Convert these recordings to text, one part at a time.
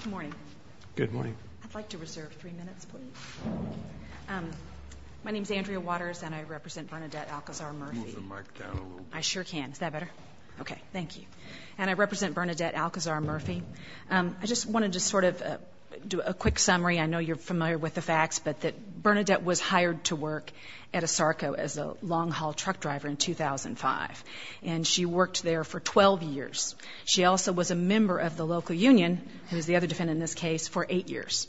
Good morning. Good morning. I'd like to reserve three minutes, please. My name is Andrea Waters, and I represent Bernadette Alcozar-Murphy. Can you move the mic down a little bit? I sure can. Is that better? Okay, thank you. And I represent Bernadette Alcozar-Murphy. I just wanted to sort of do a quick summary. I know you're familiar with the facts, but Bernadette was hired to work at ASARCO as a long-haul truck driver in 2005, and she worked there for 12 years. She also was a member of the local union, who is the other defendant in this case, for eight years.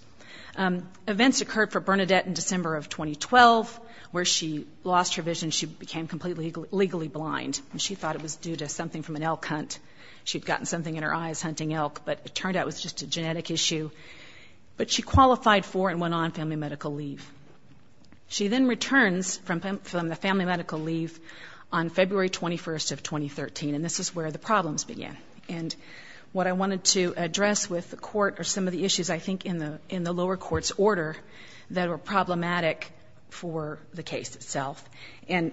Events occurred for Bernadette in December of 2012, where she lost her vision. She became completely legally blind, and she thought it was due to something from an elk hunt. She'd gotten something in her eyes hunting elk, but it turned out it was just a genetic issue. But she qualified for and went on family medical leave. She then returns from the family medical leave on February 21st of 2013, and this is where the problems began. And what I wanted to address with the court are some of the issues, I think, in the lower court's order that were problematic for the case itself. And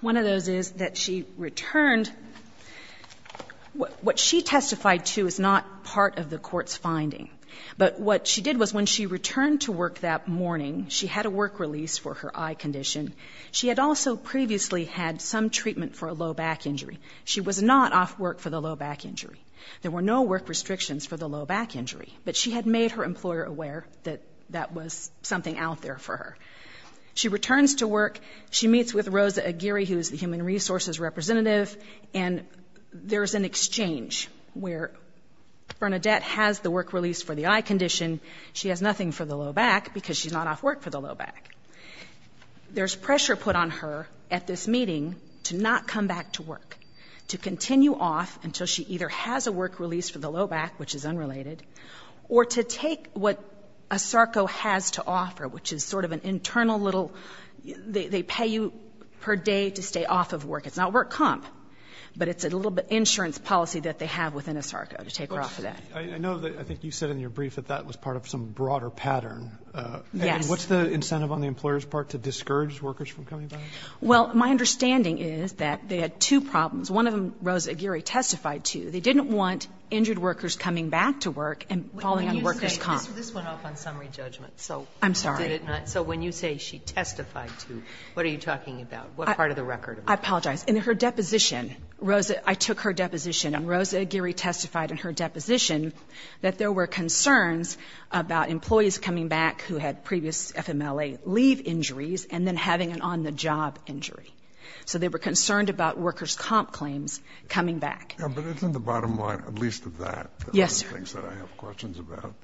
one of those is that she returned. What she testified to is not part of the court's finding, but what she did was when she returned to work that morning, she had a work release for her eye condition. She had also previously had some treatment for a low back injury. She was not off work for the low back injury. There were no work restrictions for the low back injury, but she had made her employer aware that that was something out there for her. She returns to work. She meets with Rosa Aguirre, who is the human resources representative, and there's an exchange where Bernadette has the work release for the eye condition. She has nothing for the low back because she's not off work for the low back. There's pressure put on her at this meeting to not come back to work, to continue off until she either has a work release for the low back, which is unrelated, or to take what ASARCO has to offer, which is sort of an internal little they pay you per day to stay off of work. It's not work comp, but it's a little bit insurance policy that they have within ASARCO to take her off of that. I know that I think you said in your brief that that was part of some broader pattern. Yes. And what's the incentive on the employer's part to discourage workers from coming back? Well, my understanding is that they had two problems. One of them Rosa Aguirre testified to. They didn't want injured workers coming back to work and falling under worker's comp. This went off on summary judgment. I'm sorry. So when you say she testified to, what are you talking about? What part of the record? I apologize. In her deposition, Rosa, I took her deposition, and Rosa Aguirre testified in her deposition that there were concerns about employees coming back who had previous FMLA leave injuries and then having an on-the-job injury. So they were concerned about worker's comp claims coming back. Yeah, but isn't the bottom line at least of that? Yes, sir. One of the things that I have questions about.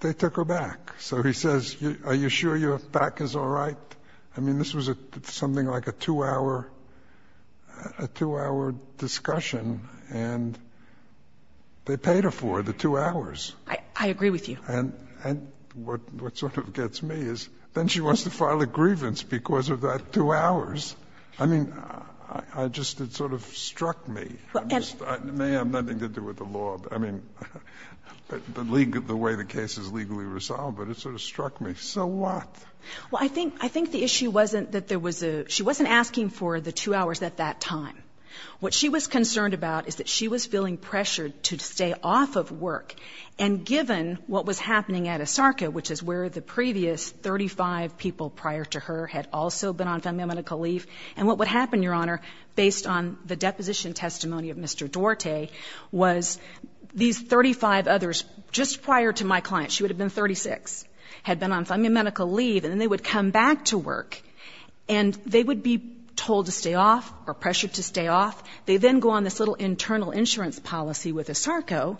They took her back. So he says, are you sure your back is all right? I mean, this was something like a two-hour discussion, and they paid her for it, the two hours. I agree with you. And what sort of gets me is then she wants to file a grievance because of that two hours. I mean, I just sort of struck me. It may have nothing to do with the law. I mean, the way the case is legally resolved, but it sort of struck me. So what? Well, I think the issue wasn't that there was a ‑‑ she wasn't asking for the two hours at that time. What she was concerned about is that she was feeling pressured to stay off of work, and given what was happening at ASARCA, which is where the previous 35 people prior to her had also been on FMLA medical leave, and what would happen, Your Honor, based on the deposition testimony of Mr. Duarte, was these 35 others just prior to my client, she would have been 36, had been on FMLA medical leave, and then they would come back to work, and they would be told to stay off or pressured to stay off. They then go on this little internal insurance policy with ASARCA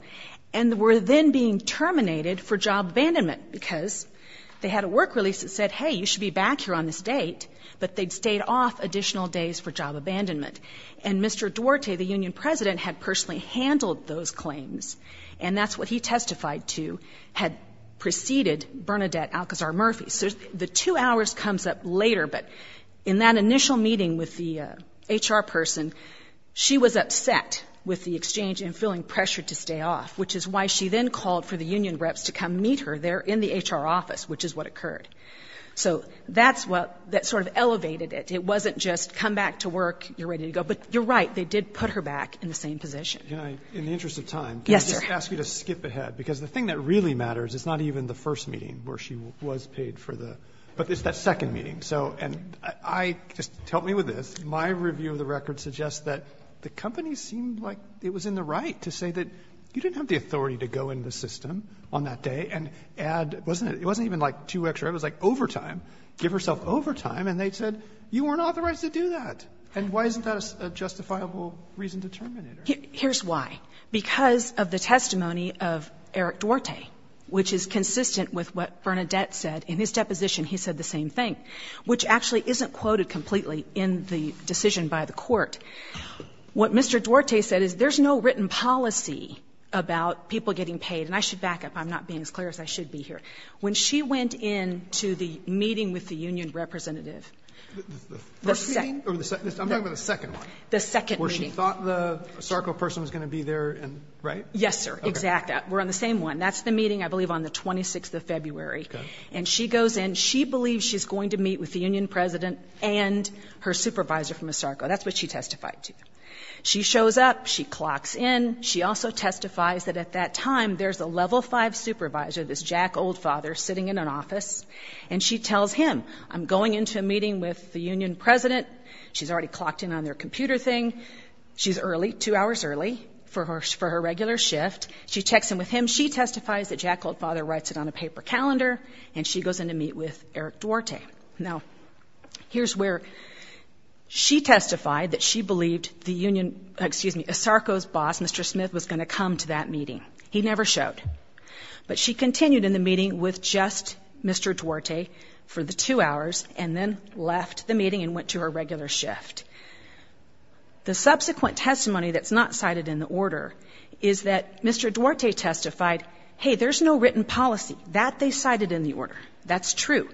and were then being terminated for job abandonment because they had a work release that said, hey, you should be back here on this date, but they'd stayed off additional days for job abandonment. And Mr. Duarte, the union president, had personally handled those claims, and that's what he testified to had preceded Bernadette Alcazar Murphy. So the two hours comes up later, but in that initial meeting with the HR person, she was upset with the exchange and feeling pressured to stay off, which is why she then called for the union reps to come meet her there in the HR office, which is what occurred. So that's what sort of elevated it. It wasn't just come back to work, you're ready to go. But you're right, they did put her back in the same position. In the interest of time, can I just ask you to skip ahead? Because the thing that really matters is not even the first meeting where she was paid, but it's that second meeting. And just help me with this. My review of the record suggests that the company seemed like it was in the right to say that you didn't have the authority to go into the system on that day and add – it wasn't even like two extra hours, it was like overtime, give herself overtime, and they said you weren't authorized to do that. And why isn't that a justifiable reason to terminate her? Here's why. Because of the testimony of Eric Duarte, which is consistent with what Bernadette said in his deposition. He said the same thing, which actually isn't quoted completely in the decision by the court. What Mr. Duarte said is there's no written policy about people getting paid. And I should back up. I'm not being as clear as I should be here. When she went into the meeting with the union representative, the second – The first meeting? I'm talking about the second one. The second meeting. Where she thought the SARCO person was going to be there, right? Yes, sir. Exactly. We're on the same one. That's the meeting, I believe, on the 26th of February. And she goes in. She believes she's going to meet with the union president and her supervisor from the SARCO. That's what she testified to. She shows up. She clocks in. She also testifies that at that time there's a level five supervisor, this jack old father, sitting in an office, and she tells him, I'm going into a meeting with the union president. She's already clocked in on their computer thing. She's early, two hours early for her regular shift. She checks in with him. She testifies that jack old father writes it on a paper calendar, and she goes in to meet with Eric Duarte. Now, here's where she testified that she believed the union – excuse me, a SARCO's boss, Mr. Smith, was going to come to that meeting. He never showed. But she continued in the meeting with just Mr. Duarte for the two hours and then left the meeting and went to her regular shift. The subsequent testimony that's not cited in the order is that Mr. Duarte testified, hey, there's no written policy. That they cited in the order. That's true.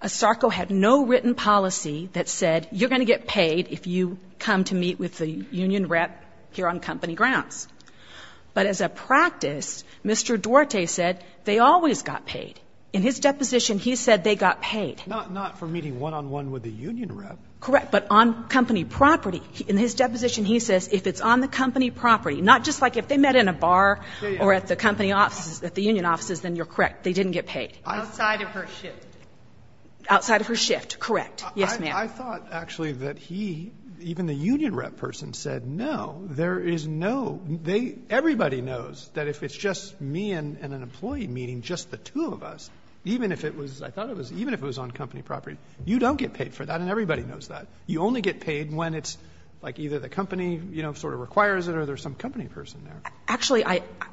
A SARCO had no written policy that said you're going to get paid if you come to meet with the union rep here on company grounds. But as a practice, Mr. Duarte said they always got paid. In his deposition, he said they got paid. Not for meeting one-on-one with the union rep. Correct. But on company property. In his deposition, he says if it's on the company property, not just like if they met in a bar or at the company offices, at the union offices, then you're correct. They didn't get paid. Outside of her shift. Outside of her shift, correct. Yes, ma'am. I thought, actually, that he, even the union rep person, said no. There is no – everybody knows that if it's just me and an employee meeting, just the two of us, even if it was on company property, you don't get paid for that and everybody knows that. You only get paid when it's like either the company sort of requires it or there's some company person there. Actually,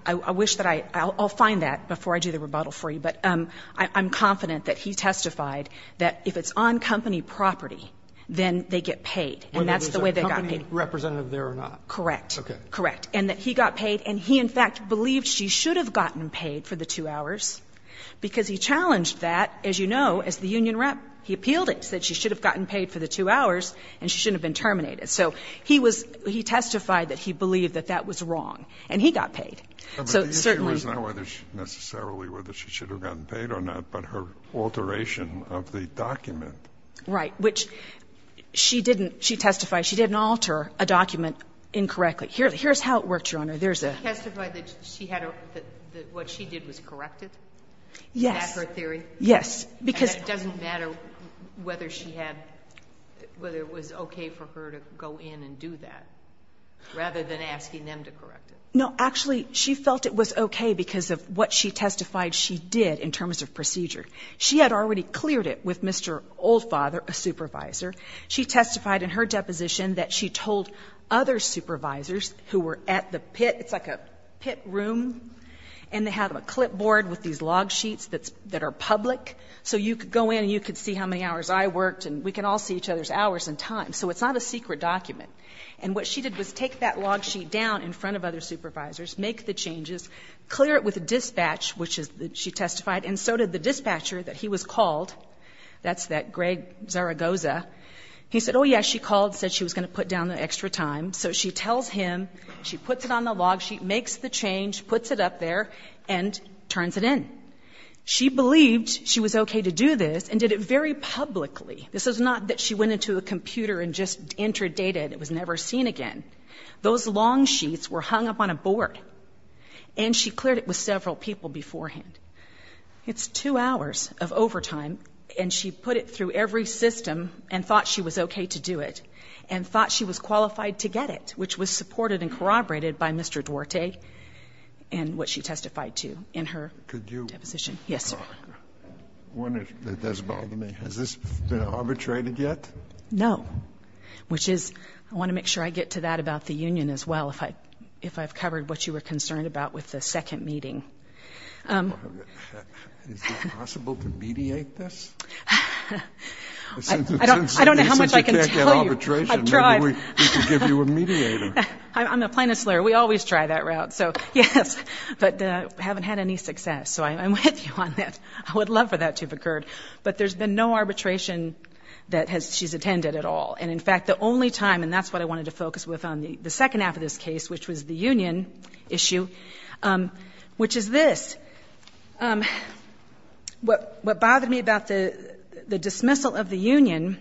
I wish that I – I'll find that before I do the rebuttal for you. But I'm confident that he testified that if it's on company property, then they get paid and that's the way they got paid. Whether there's a company representative there or not. Correct. Okay. Correct. And that he got paid and he, in fact, believed she should have gotten paid for the two hours because he challenged that, as you know, as the union rep. He appealed it. He said she should have gotten paid for the two hours and she shouldn't have been terminated. So he testified that he believed that that was wrong and he got paid. But the issue is not necessarily whether she should have gotten paid or not, but her alteration of the document. Right. Which she didn't – she testified she didn't alter a document incorrectly. Here's how it worked, Your Honor. There's a – She testified that she had – that what she did was corrected? Yes. Is that her theory? Yes. Because – And it doesn't matter whether she had – whether it was okay for her to go in and do that rather than asking them to correct it? No. Actually, she felt it was okay because of what she testified she did in terms of procedure. She had already cleared it with Mr. Oldfather, a supervisor. She testified in her deposition that she told other supervisors who were at the pit – it's like a pit room and they have a clipboard with these log sheets that are public so you could go in and you could see how many hours I worked and we could all see each other's hours and time. So it's not a secret document. And what she did was take that log sheet down in front of other supervisors, make the changes, clear it with a dispatch, which she testified, and so did the dispatcher that he was called. That's that Greg Zaragoza. He said, oh, yeah, she called, said she was going to put down the extra time. So she tells him, she puts it on the log sheet, makes the change, puts it up there, and turns it in. She believed she was okay to do this and did it very publicly. This is not that she went into a computer and just entered data and it was never seen again. Those long sheets were hung up on a board. And she cleared it with several people beforehand. It's two hours of overtime, and she put it through every system and thought she was okay to do it and thought she was qualified to get it, which was supported and corroborated by Mr. Duarte and what she testified to in her deposition. Yes, sir. One that does bother me. Has this been arbitrated yet? No, which is I want to make sure I get to that about the union as well if I've covered what you were concerned about with the second meeting. Is it possible to mediate this? I don't know how much I can tell you. Since you can't get arbitration, maybe we could give you a mediator. I'm a plaintiff's lawyer. We always try that route, so yes. But we haven't had any success, so I'm with you on that. I would love for that to have occurred. But there's been no arbitration that she's attended at all. And, in fact, the only time, and that's what I wanted to focus with on the second half of this case, which was the union issue, which is this. What bothered me about the dismissal of the union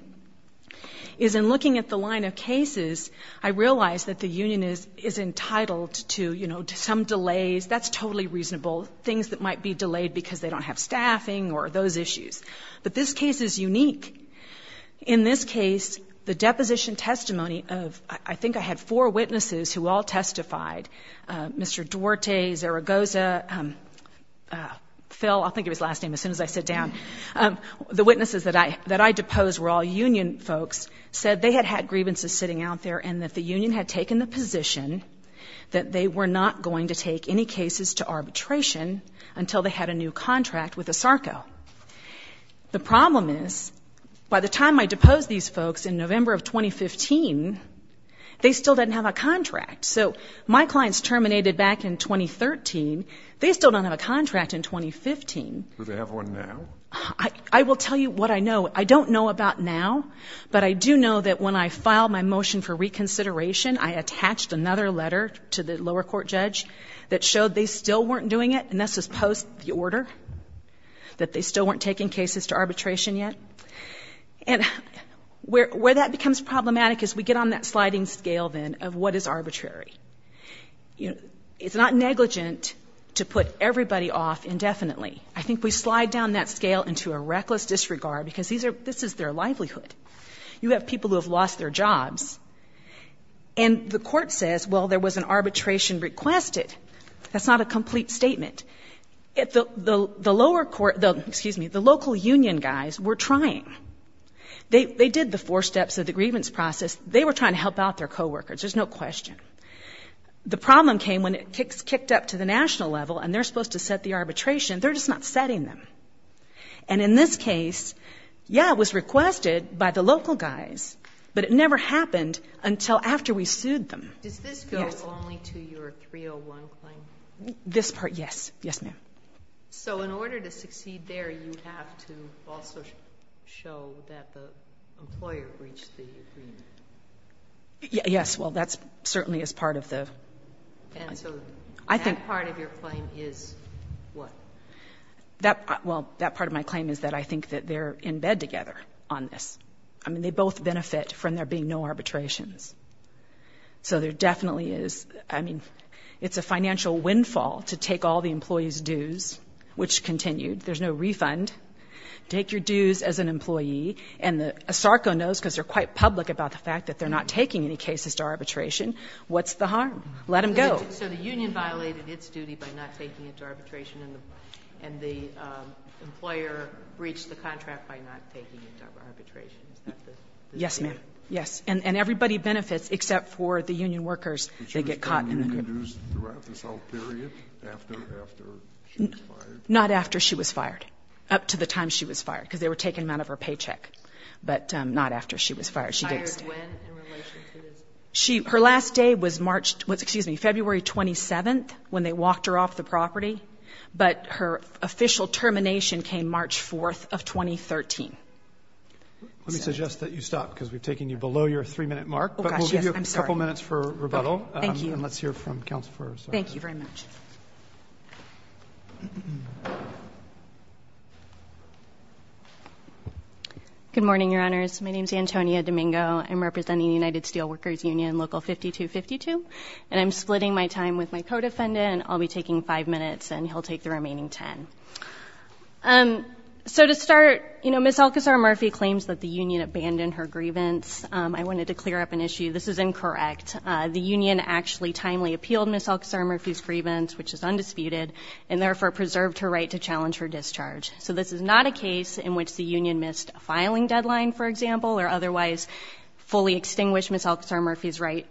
is in looking at the line of cases, I realized that the union is entitled to some delays. That's totally reasonable, things that might be delayed because they don't have staffing or those issues. But this case is unique. In this case, the deposition testimony of, I think I had four witnesses who all testified, Mr. Duarte, Zaragoza, Phil, I'll think of his last name as soon as I sit down. The witnesses that I deposed were all union folks, said they had had grievances sitting out there and that the union had taken the position that they were not going to take any cases to arbitration until they had a new contract with ASARCO. The problem is, by the time I deposed these folks in November of 2015, they still didn't have a contract. So my clients terminated back in 2013, they still don't have a contract in 2015. Do they have one now? I will tell you what I know. I don't know about now, but I do know that when I filed my motion for reconsideration, I attached another letter to the lower court judge that showed they still weren't doing it, and that's just post the order, that they still weren't taking cases to arbitration yet. And where that becomes problematic is we get on that sliding scale then of what is arbitrary. It's not negligent to put everybody off indefinitely. I think we slide down that scale into a reckless disregard because this is their livelihood. You have people who have lost their jobs, and the court says, well, there was an arbitration requested. That's not a complete statement. The local union guys were trying. They did the four steps of the grievance process. They were trying to help out their coworkers, there's no question. The problem came when it kicked up to the national level and they're supposed to set the arbitration, they're just not setting them. And in this case, yeah, it was requested by the local guys, but it never happened until after we sued them. Does this go only to your 301 claim? This part, yes. Yes, ma'am. So in order to succeed there, you have to also show that the employer breached the agreement. Yes, well, that certainly is part of the... And so that part of your claim is what? Well, that part of my claim is that I think that they're in bed together on this. I mean, they both benefit from there being no arbitrations. So there definitely is... I mean, it's a financial windfall to take all the employees' dues, which continued, there's no refund. Take your dues as an employee. And ASARCO knows because they're quite public about the fact that they're not taking any cases to arbitration. What's the harm? Let them go. So the union violated its duty by not taking it to arbitration and the employer breached the contract by not taking it to arbitration. Yes, ma'am. Yes. And everybody benefits except for the union workers that get caught. Not after she was fired, up to the time she was fired, because they were taking them out of her paycheck, but not after she was fired. Her last day was March, excuse me, February 27th when they walked her off the property, but her official termination came March 4th of 2013. Let me suggest that you stop, because we've taken you below your three-minute mark. But we'll give you a couple minutes for rebuttal. Thank you. And let's hear from counsel first. Thank you very much. Good morning, Your Honors. My name is Antonia Domingo. I'm representing the United Steelworkers Union Local 5252, and I'm splitting my time with my co-defendant. I'll be taking five minutes, and he'll take the remaining ten. So to start, you know, Ms. Alcazar Murphy claims that the union abandoned her grievance. I wanted to clear up an issue. This is incorrect. The union actually timely appealed Ms. Alcazar Murphy's grievance, which is undisputed, and therefore preserved her right to challenge her discharge. So this is not a case in which the union missed a filing deadline, for example, or otherwise fully extinguished Ms. Alcazar Murphy's right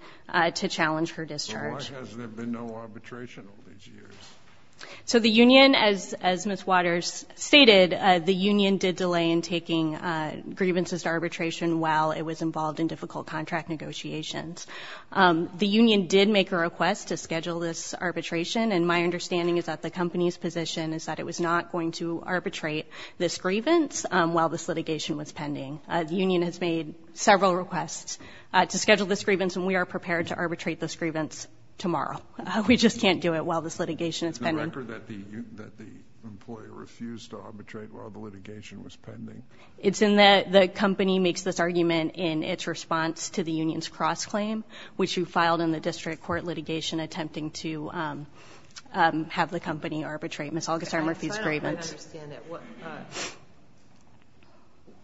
to challenge her discharge. But why hasn't there been no arbitration all these years? So the union, as Ms. Waters stated, the union did delay in taking grievances to arbitration while it was involved in difficult contract negotiations. The union did make a request to schedule this arbitration, and my understanding is that the company's position is that it was not going to arbitrate this grievance while this litigation was pending. The union has made several requests to schedule this grievance, and we are prepared to arbitrate this grievance tomorrow. We just can't do it while this litigation is pending. Is the record that the employer refused to arbitrate while the litigation was pending? It's in that the company makes this argument in its response to the union's cross-claim, which you filed in the district court litigation attempting to have the company arbitrate Ms. Alcazar Murphy's grievance. I don't understand that.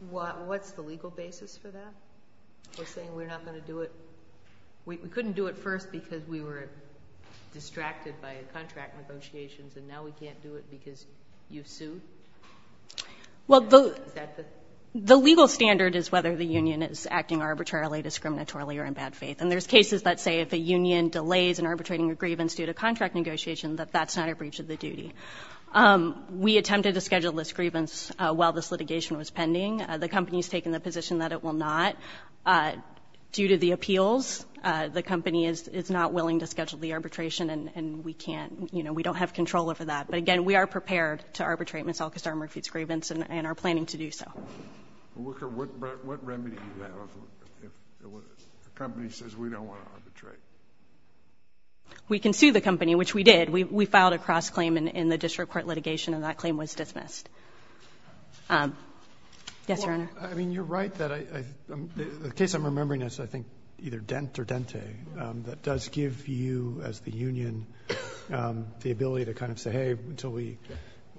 What's the legal basis for that? We're saying we're not going to do it. We couldn't do it first because we were distracted by contract negotiations, and now we can't do it because you've sued? Well, the legal standard is whether the union is acting arbitrarily, discriminatorily, or in bad faith, and there's cases that say if a union delays in arbitrating a grievance due to contract negotiations, that that's not a breach of the duty. We attempted to schedule this grievance while this litigation was pending. The company has taken the position that it will not. Due to the appeals, the company is not willing to schedule the arbitration, and we don't have control over that. But, again, we are prepared to arbitrate Ms. Alcazar Murphy's grievance and are planning to do so. What remedy do you have if the company says we don't want to arbitrate? We can sue the company, which we did. We filed a cross-claim in the district court litigation, and that claim was dismissed. Yes, Your Honor. I mean, you're right that the case I'm remembering is, I think, either Dent or Dente. That does give you, as the union, the ability to kind of say, hey, until we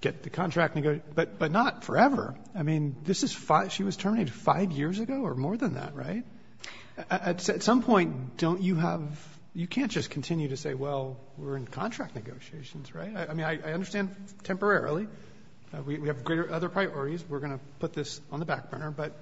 get the contract negotiated. But not forever. I mean, she was terminated five years ago or more than that, right? At some point, you can't just continue to say, well, we're in contract negotiations, right? I mean, I understand temporarily. We have other priorities. We're going to put this on the back burner. But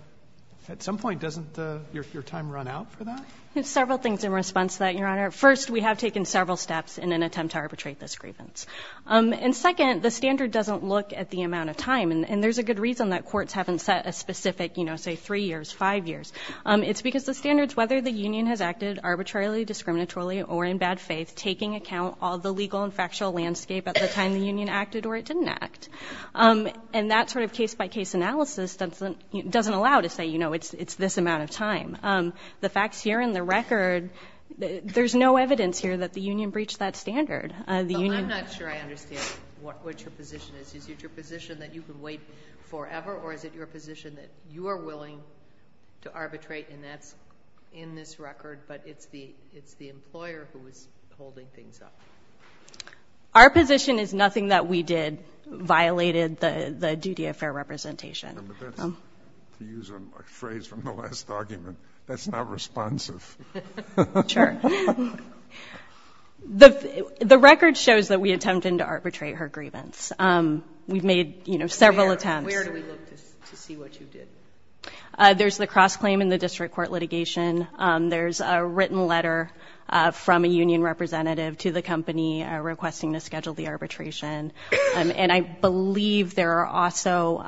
at some point, doesn't your time run out for that? There's several things in response to that, Your Honor. First, we have taken several steps in an attempt to arbitrate this grievance. And second, the standard doesn't look at the amount of time. And there's a good reason that courts haven't set a specific, say, three years, five years. It's because the standards, whether the union has acted arbitrarily, discriminatorily, or in bad faith, taking account of the legal and factual landscape at the time the union acted or it didn't act, and that sort of case-by-case analysis doesn't allow to say, you know, it's this amount of time. The facts here in the record, there's no evidence here that the union breached that standard. I'm not sure I understand what your position is. Is it your position that you can wait forever or is it your position that you are willing to arbitrate and that's in this record but it's the employer who is holding things up? Our position is nothing that we did violated the duty of fair representation. To use a phrase from the last argument, that's not responsive. Sure. The record shows that we attempted to arbitrate her grievance. We've made, you know, several attempts. Where do we look to see what you did? There's the cross-claim in the district court litigation. There's a written letter from a union representative to the company requesting to schedule the arbitration. And I believe there are also,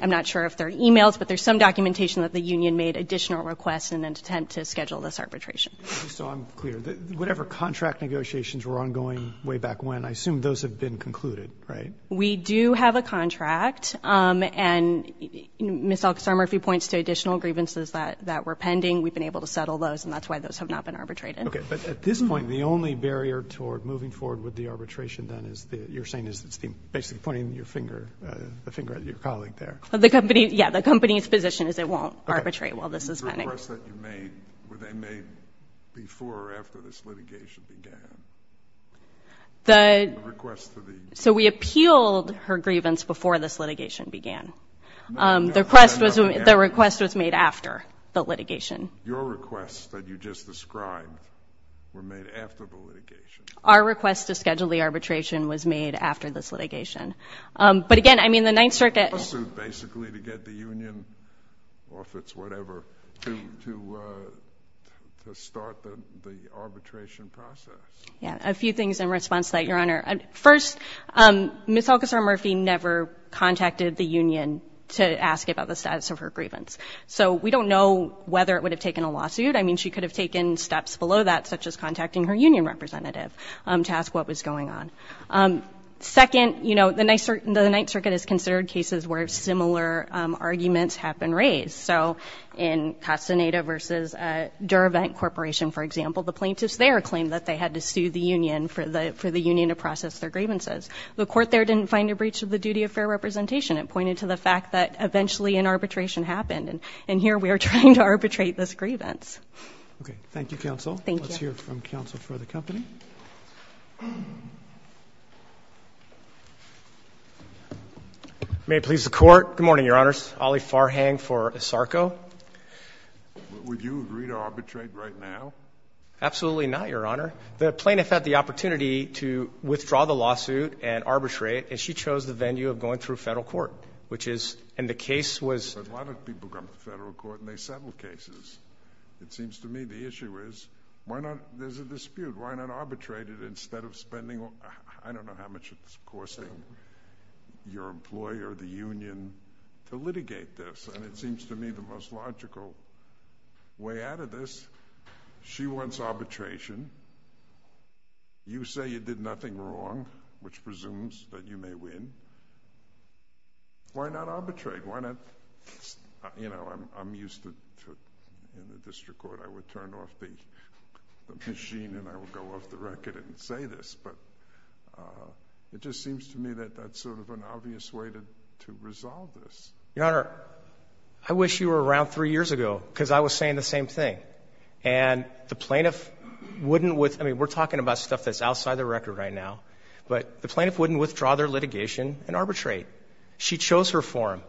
I'm not sure if they're e-mails, but there's some documentation that the union made additional requests in an attempt to schedule this arbitration. Just so I'm clear, whatever contract negotiations were ongoing way back when, I assume those have been concluded, right? We do have a contract, and Ms. Alcazar-Murphy points to additional grievances that were pending. We've been able to settle those, and that's why those have not been arbitrated. Okay, but at this point, the only barrier toward moving forward with the arbitration, then, is you're saying it's basically pointing the finger at your colleague there. Yeah, the company's position is it won't arbitrate while this is pending. The requests that you made, were they made before or after this litigation began? The request to the- So we appealed her grievance before this litigation began. The request was made after the litigation. Your requests that you just described were made after the litigation. Our request to schedule the arbitration was made after this litigation. But again, I mean, the Ninth Circuit- To start the arbitration process. Yeah, a few things in response to that, Your Honor. First, Ms. Alcazar-Murphy never contacted the union to ask about the status of her grievance. So we don't know whether it would have taken a lawsuit. I mean, she could have taken steps below that, such as contacting her union representative to ask what was going on. Second, you know, the Ninth Circuit has considered cases where similar arguments have been raised. So in Castaneda v. Durevent Corporation, for example, the plaintiffs there claimed that they had to sue the union for the union to process their grievances. The court there didn't find a breach of the duty of fair representation. It pointed to the fact that eventually an arbitration happened. And here we are trying to arbitrate this grievance. Okay. Thank you, counsel. Thank you. Let's hear from counsel for the company. May it please the court. Good morning, Your Honors. Olly Farhang for ISARCO. Would you agree to arbitrate right now? Absolutely not, Your Honor. The plaintiff had the opportunity to withdraw the lawsuit and arbitrate, and she chose the venue of going through federal court, which is—and the case was— But why don't people come to federal court and they settle cases? It seems to me the issue is why not—there's a dispute. Why not arbitrate it instead of spending—I don't know how much it's costing your employer, the union, to litigate this. And it seems to me the most logical way out of this. She wants arbitration. You say you did nothing wrong, which presumes that you may win. Why not arbitrate? You know, I'm used to, in the district court, I would turn off the machine and I would go off the record and say this. But it just seems to me that that's sort of an obvious way to resolve this. Your Honor, I wish you were around three years ago because I was saying the same thing. And the plaintiff wouldn't—I mean, we're talking about stuff that's outside the record right now. But the plaintiff wouldn't withdraw their litigation and arbitrate. She chose her form.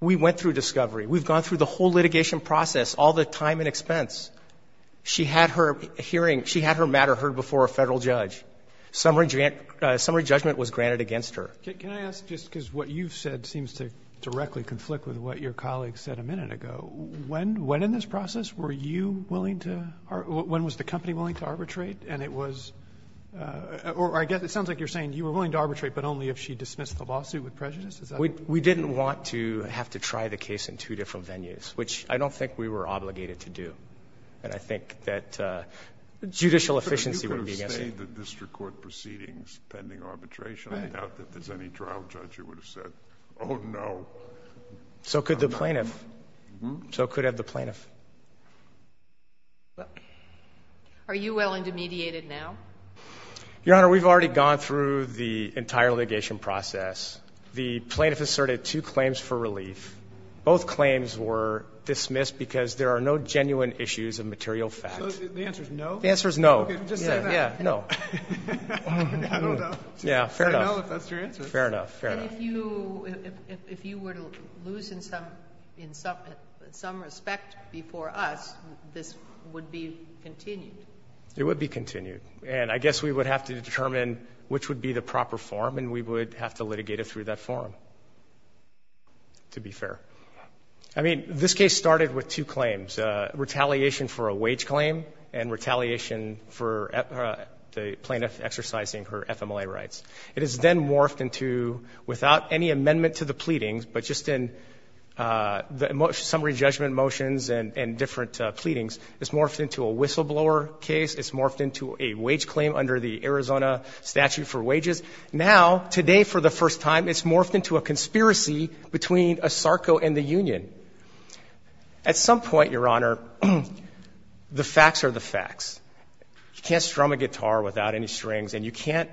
We went through discovery. We've gone through the whole litigation process, all the time and expense. She had her hearing—she had her matter heard before a federal judge. Summary judgment was granted against her. Can I ask, just because what you've said seems to directly conflict with what your colleague said a minute ago, when in this process were you willing to—when was the company willing to arbitrate? And it was—or I guess it sounds like you're saying you were willing to arbitrate, but only if she dismissed the lawsuit with prejudice? Is that— We didn't want to have to try the case in two different venues, which I don't think we were obligated to do. And I think that judicial efficiency would be— You could have stayed the district court proceedings pending arbitration. I doubt that there's any trial judge who would have said, oh, no. So could the plaintiff. So could have the plaintiff. Well, are you willing to mediate it now? Your Honor, we've already gone through the entire litigation process. The plaintiff asserted two claims for relief. Both claims were dismissed because there are no genuine issues of material fact. So the answer is no? The answer is no. Okay, just say that. Yeah, no. I don't know. Yeah, fair enough. I don't know if that's your answer. Fair enough, fair enough. And if you were to lose in some respect before us, this would be continued? It would be continued. And I guess we would have to determine which would be the proper form, and we would have to litigate it through that form, to be fair. I mean, this case started with two claims, retaliation for a wage claim and retaliation for the plaintiff exercising her FMLA rights. It has then morphed into, without any amendment to the pleadings, but just in the summary judgment motions and different pleadings, it's morphed into a whistleblower case. It's morphed into a wage claim under the Arizona statute for wages. Now, today for the first time, it's morphed into a conspiracy between ASARCO and the union. At some point, Your Honor, the facts are the facts. You can't strum a guitar without any strings, and you can't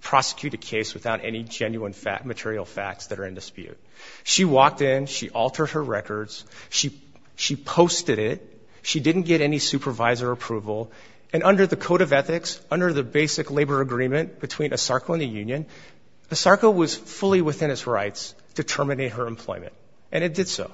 prosecute a case without any genuine material facts that are in dispute. She walked in. She altered her records. She posted it. She didn't get any supervisor approval. And under the code of ethics, under the basic labor agreement between ASARCO and the union, ASARCO was fully within its rights to terminate her employment, and it did so.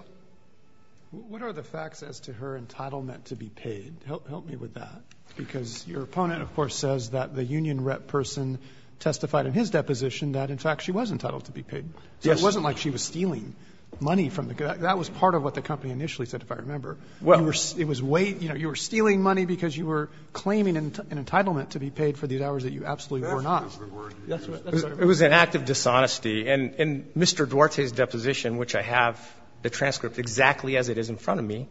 What are the facts as to her entitlement to be paid? Help me with that, because your opponent, of course, says that the union rep person testified in his deposition that, in fact, she was entitled to be paid. Yes. So it wasn't like she was stealing money from the guy. That was part of what the company initially said, if I remember. Well. You were stealing money because you were claiming an entitlement to be paid for these hours that you absolutely were not. That's what it was. It was an act of dishonesty. And Mr. Duarte's deposition, which I have the transcript exactly as it is in front of me,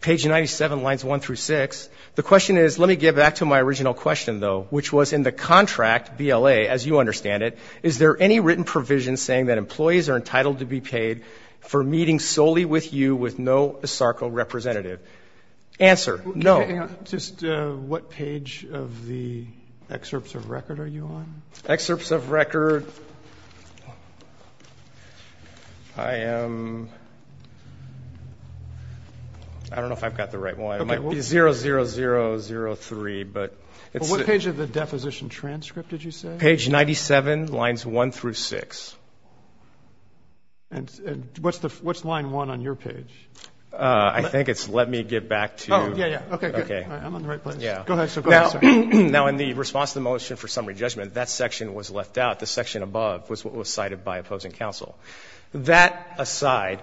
page 97, lines 1 through 6. The question is, let me get back to my original question, though, which was in the contract, BLA, as you understand it, is there any written provision saying that employees are entitled to be paid for meeting solely with you with no ASARCO representative? Answer, no. Just what page of the excerpts of record are you on? Excerpts of record, I am, I don't know if I've got the right one. It might be 0003, but it's. What page of the deposition transcript did you say? Page 97, lines 1 through 6. And what's line 1 on your page? I think it's let me get back to. Oh, yeah, yeah. Okay, good. I'm on the right page. Go ahead, sir. Now, in the response to the motion for summary judgment, that section was left out. The section above was what was cited by opposing counsel. That aside,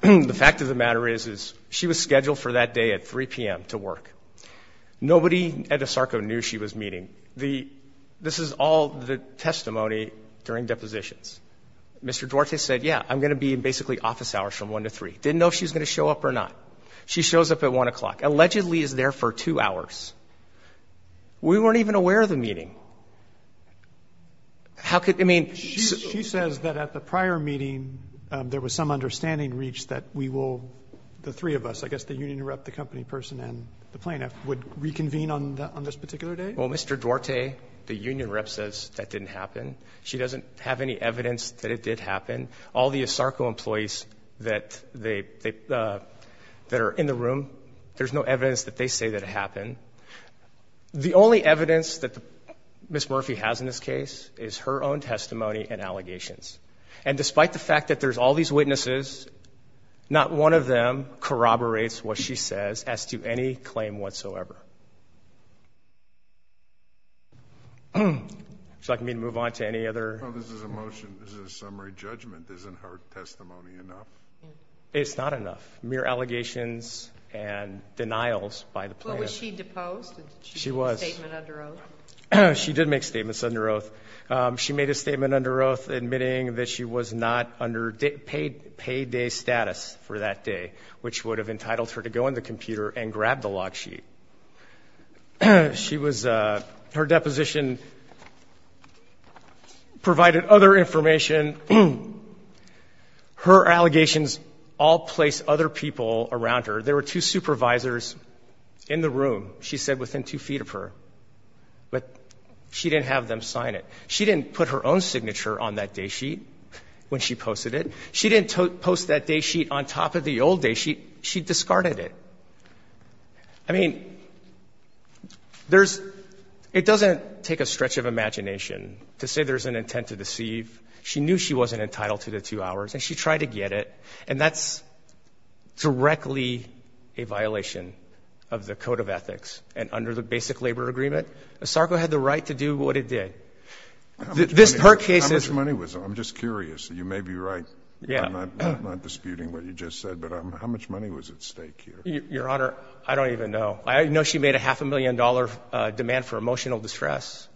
the fact of the matter is, is she was scheduled for that day at 3 p.m. to work. Nobody at ASARCO knew she was meeting. This is all the testimony during depositions. Mr. Duarte said, yeah, I'm going to be in basically office hours from 1 to 3. Didn't know if she was going to show up or not. She shows up at 1 o'clock. Allegedly is there for two hours. We weren't even aware of the meeting. She says that at the prior meeting there was some understanding reached that we will, the three of us, I guess the union rep, the company person, and the plaintiff, would reconvene on this particular day? Well, Mr. Duarte, the union rep, says that didn't happen. She doesn't have any evidence that it did happen. All the ASARCO employees that are in the room, there's no evidence that they say that it happened. The only evidence that Ms. Murphy has in this case is her own testimony and allegations. And despite the fact that there's all these witnesses, not one of them corroborates what she says as to any claim whatsoever. Would you like me to move on to any other? No, this is a motion. This is a summary judgment. Isn't her testimony enough? It's not enough. Mere allegations and denials by the plaintiff. Well, was she deposed? She was. Did she make a statement under oath? She did make statements under oath. She made a statement under oath admitting that she was not under payday status for that day, which would have entitled her to go in the computer and grab the log sheet. Her deposition provided other information. Her allegations all place other people around her. There were two supervisors in the room, she said, within two feet of her. But she didn't have them sign it. She didn't put her own signature on that day sheet when she posted it. She didn't post that day sheet on top of the old day sheet. She discarded it. I mean, it doesn't take a stretch of imagination to say there's an intent to deceive. She knew she wasn't entitled to the two hours, and she tried to get it. And that's directly a violation of the code of ethics. And under the basic labor agreement, Sarko had the right to do what it did. How much money was it? I'm just curious. You may be right. I'm not disputing what you just said. But how much money was at stake here? Your Honor, I don't even know. I know she made a half a million dollar demand for emotional distress.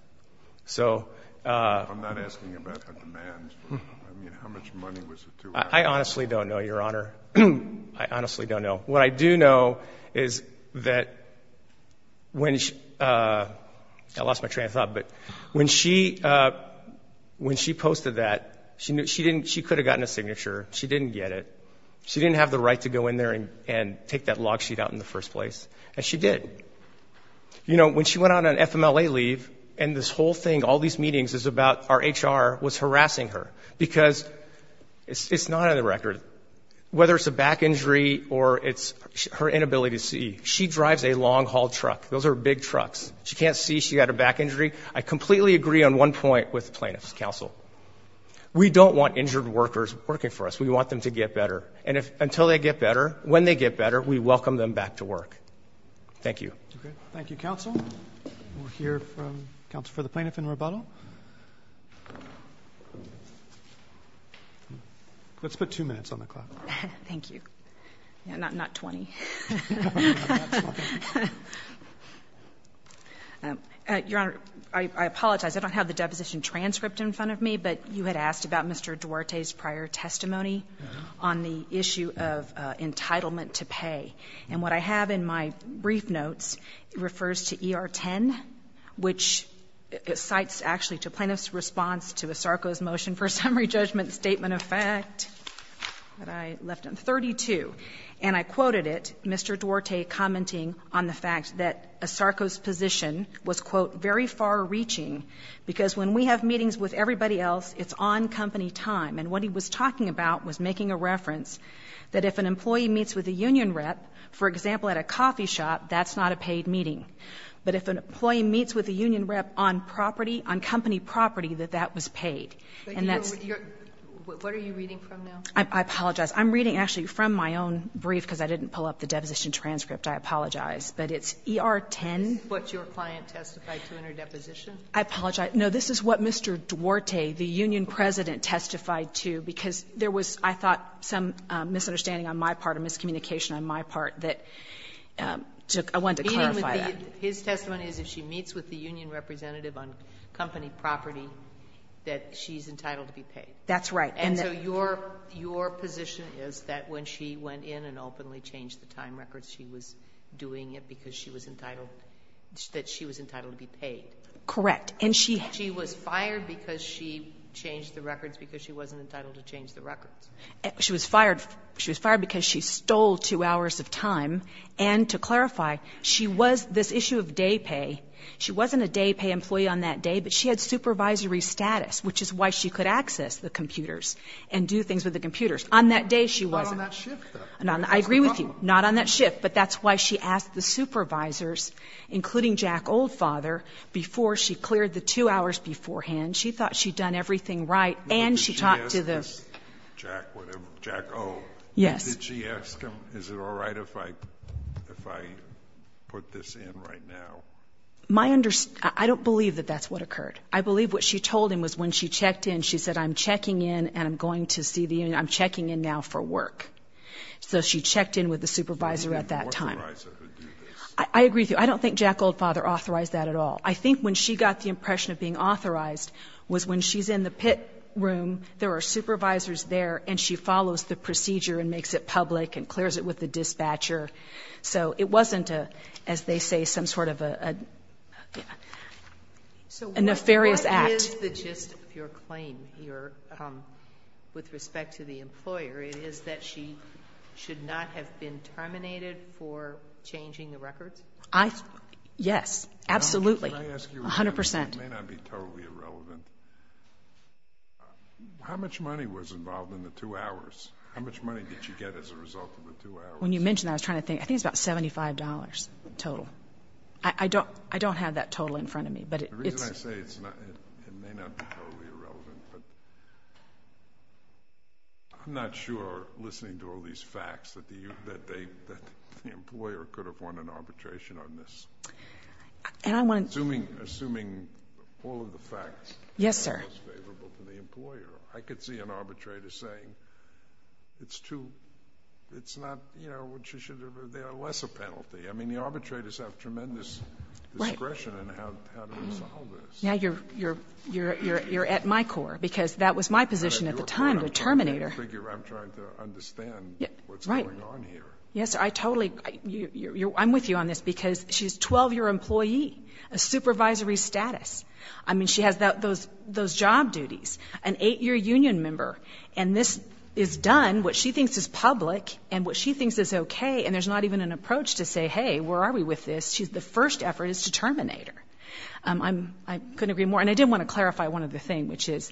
I'm not asking about the demand. I mean, how much money was it to her? I honestly don't know, Your Honor. I honestly don't know. What I do know is that when she posted that, she could have gotten a signature. She didn't get it. She didn't have the right to go in there and take that log sheet out in the first place. And she did. You know, when she went on an FMLA leave, and this whole thing, all these meetings, is about our HR was harassing her, because it's not on the record, whether it's a back injury or it's her inability to see. She drives a long-haul truck. Those are big trucks. She can't see. She had a back injury. I completely agree on one point with plaintiff's counsel. We don't want injured workers working for us. We want them to get better. And until they get better, when they get better, we welcome them back to work. Thank you. Thank you, counsel. We'll hear from counsel for the plaintiff in rebuttal. Let's put two minutes on the clock. Thank you. Not 20. Your Honor, I apologize. I don't have the deposition transcript in front of me, but you had asked about Mr. Duarte's prior testimony on the issue of entitlement to pay. And what I have in my brief notes refers to ER 10, which cites actually to plaintiff's response to ASARCO's motion for summary judgment statement of fact, that I left on 32. And I quoted it, Mr. Duarte commenting on the fact that ASARCO's position was, because when we have meetings with everybody else, it's on company time. And what he was talking about was making a reference that if an employee meets with a union rep, for example, at a coffee shop, that's not a paid meeting. But if an employee meets with a union rep on property, on company property, that that was paid. What are you reading from now? I apologize. I'm reading actually from my own brief because I didn't pull up the deposition transcript. I apologize. But it's ER 10. This is what your client testified to in her deposition? I apologize. No, this is what Mr. Duarte, the union president, testified to because there was, I thought, some misunderstanding on my part or miscommunication on my part that I wanted to clarify that. His testimony is if she meets with the union representative on company property, that she's entitled to be paid. That's right. And so your position is that when she went in and openly changed the time record, she was doing it because she was entitled to be paid? Correct. And she was fired because she changed the records because she wasn't entitled to change the records? She was fired because she stole two hours of time. And to clarify, she was this issue of day pay. She wasn't a day pay employee on that day, but she had supervisory status, which is why she could access the computers and do things with the computers. On that day she wasn't. Not on that shift, though. I agree with you. Not on that shift, but that's why she asked the supervisors, including Jack Oldfather, before she cleared the two hours beforehand. She thought she'd done everything right, and she talked to the— Did she ask Jack Oldfather? Yes. Did she ask him, is it all right if I put this in right now? I don't believe that that's what occurred. I believe what she told him was when she checked in, she said, I'm checking in and I'm going to see the union. I'm checking in now for work. So she checked in with the supervisor at that time. There's no authorizer who would do this. I agree with you. I don't think Jack Oldfather authorized that at all. I think when she got the impression of being authorized was when she's in the pit room, there are supervisors there, and she follows the procedure and makes it public and clears it with the dispatcher. So it wasn't, as they say, some sort of a nefarious act. So what is the gist of your claim here with respect to the employer? It is that she should not have been terminated for changing the records? Yes, absolutely. Can I ask you a question? 100%. It may not be totally irrelevant. How much money was involved in the two hours? How much money did she get as a result of the two hours? When you mentioned that, I was trying to think. I think it's about $75 total. I don't have that total in front of me. The reason I say it may not be totally irrelevant, but I'm not sure, listening to all these facts, that the employer could have won an arbitration on this. Assuming all of the facts are not as favorable for the employer, I could see an arbitrator saying, it's too... it's not... they are less a penalty. I mean, the arbitrators have tremendous discretion in how to resolve this. Now you're at my core, because that was my position at the time, the terminator. I figure I'm trying to understand what's going on here. Yes, I totally... I'm with you on this, because she's a 12-year employee, a supervisory status. I mean, she has those job duties, an eight-year union member, and this is done, what she thinks is public and what she thinks is okay, and there's not even an approach to say, hey, where are we with this? The first effort is to terminate her. I couldn't agree more. And I did want to clarify one other thing, which is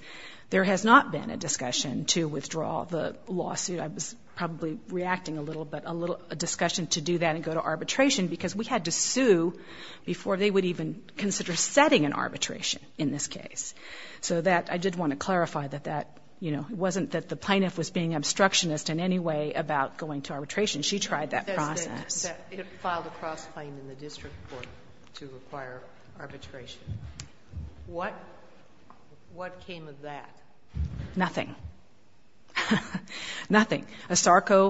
there has not been a discussion to withdraw the lawsuit. I was probably reacting a little, but a discussion to do that and go to arbitration, because we had to sue before they would even consider setting an arbitration, in this case. So I did want to clarify that that... it wasn't that the plaintiff was being obstructionist in any way about going to arbitration. She tried that process. It filed a cross-claim in the district court to require arbitration. What came of that? Nothing. Nothing. ASARCO,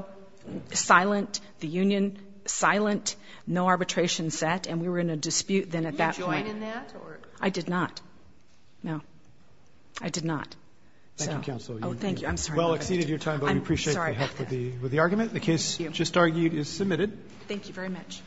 silent. The union, silent. No arbitration set, and we were in a dispute then at that point. Did you join in that? I did not. No. I did not. Thank you, counsel. Oh, thank you. I'm sorry. You have well exceeded your time, but we appreciate the help with the argument. The case just argued is submitted. Thank you very much.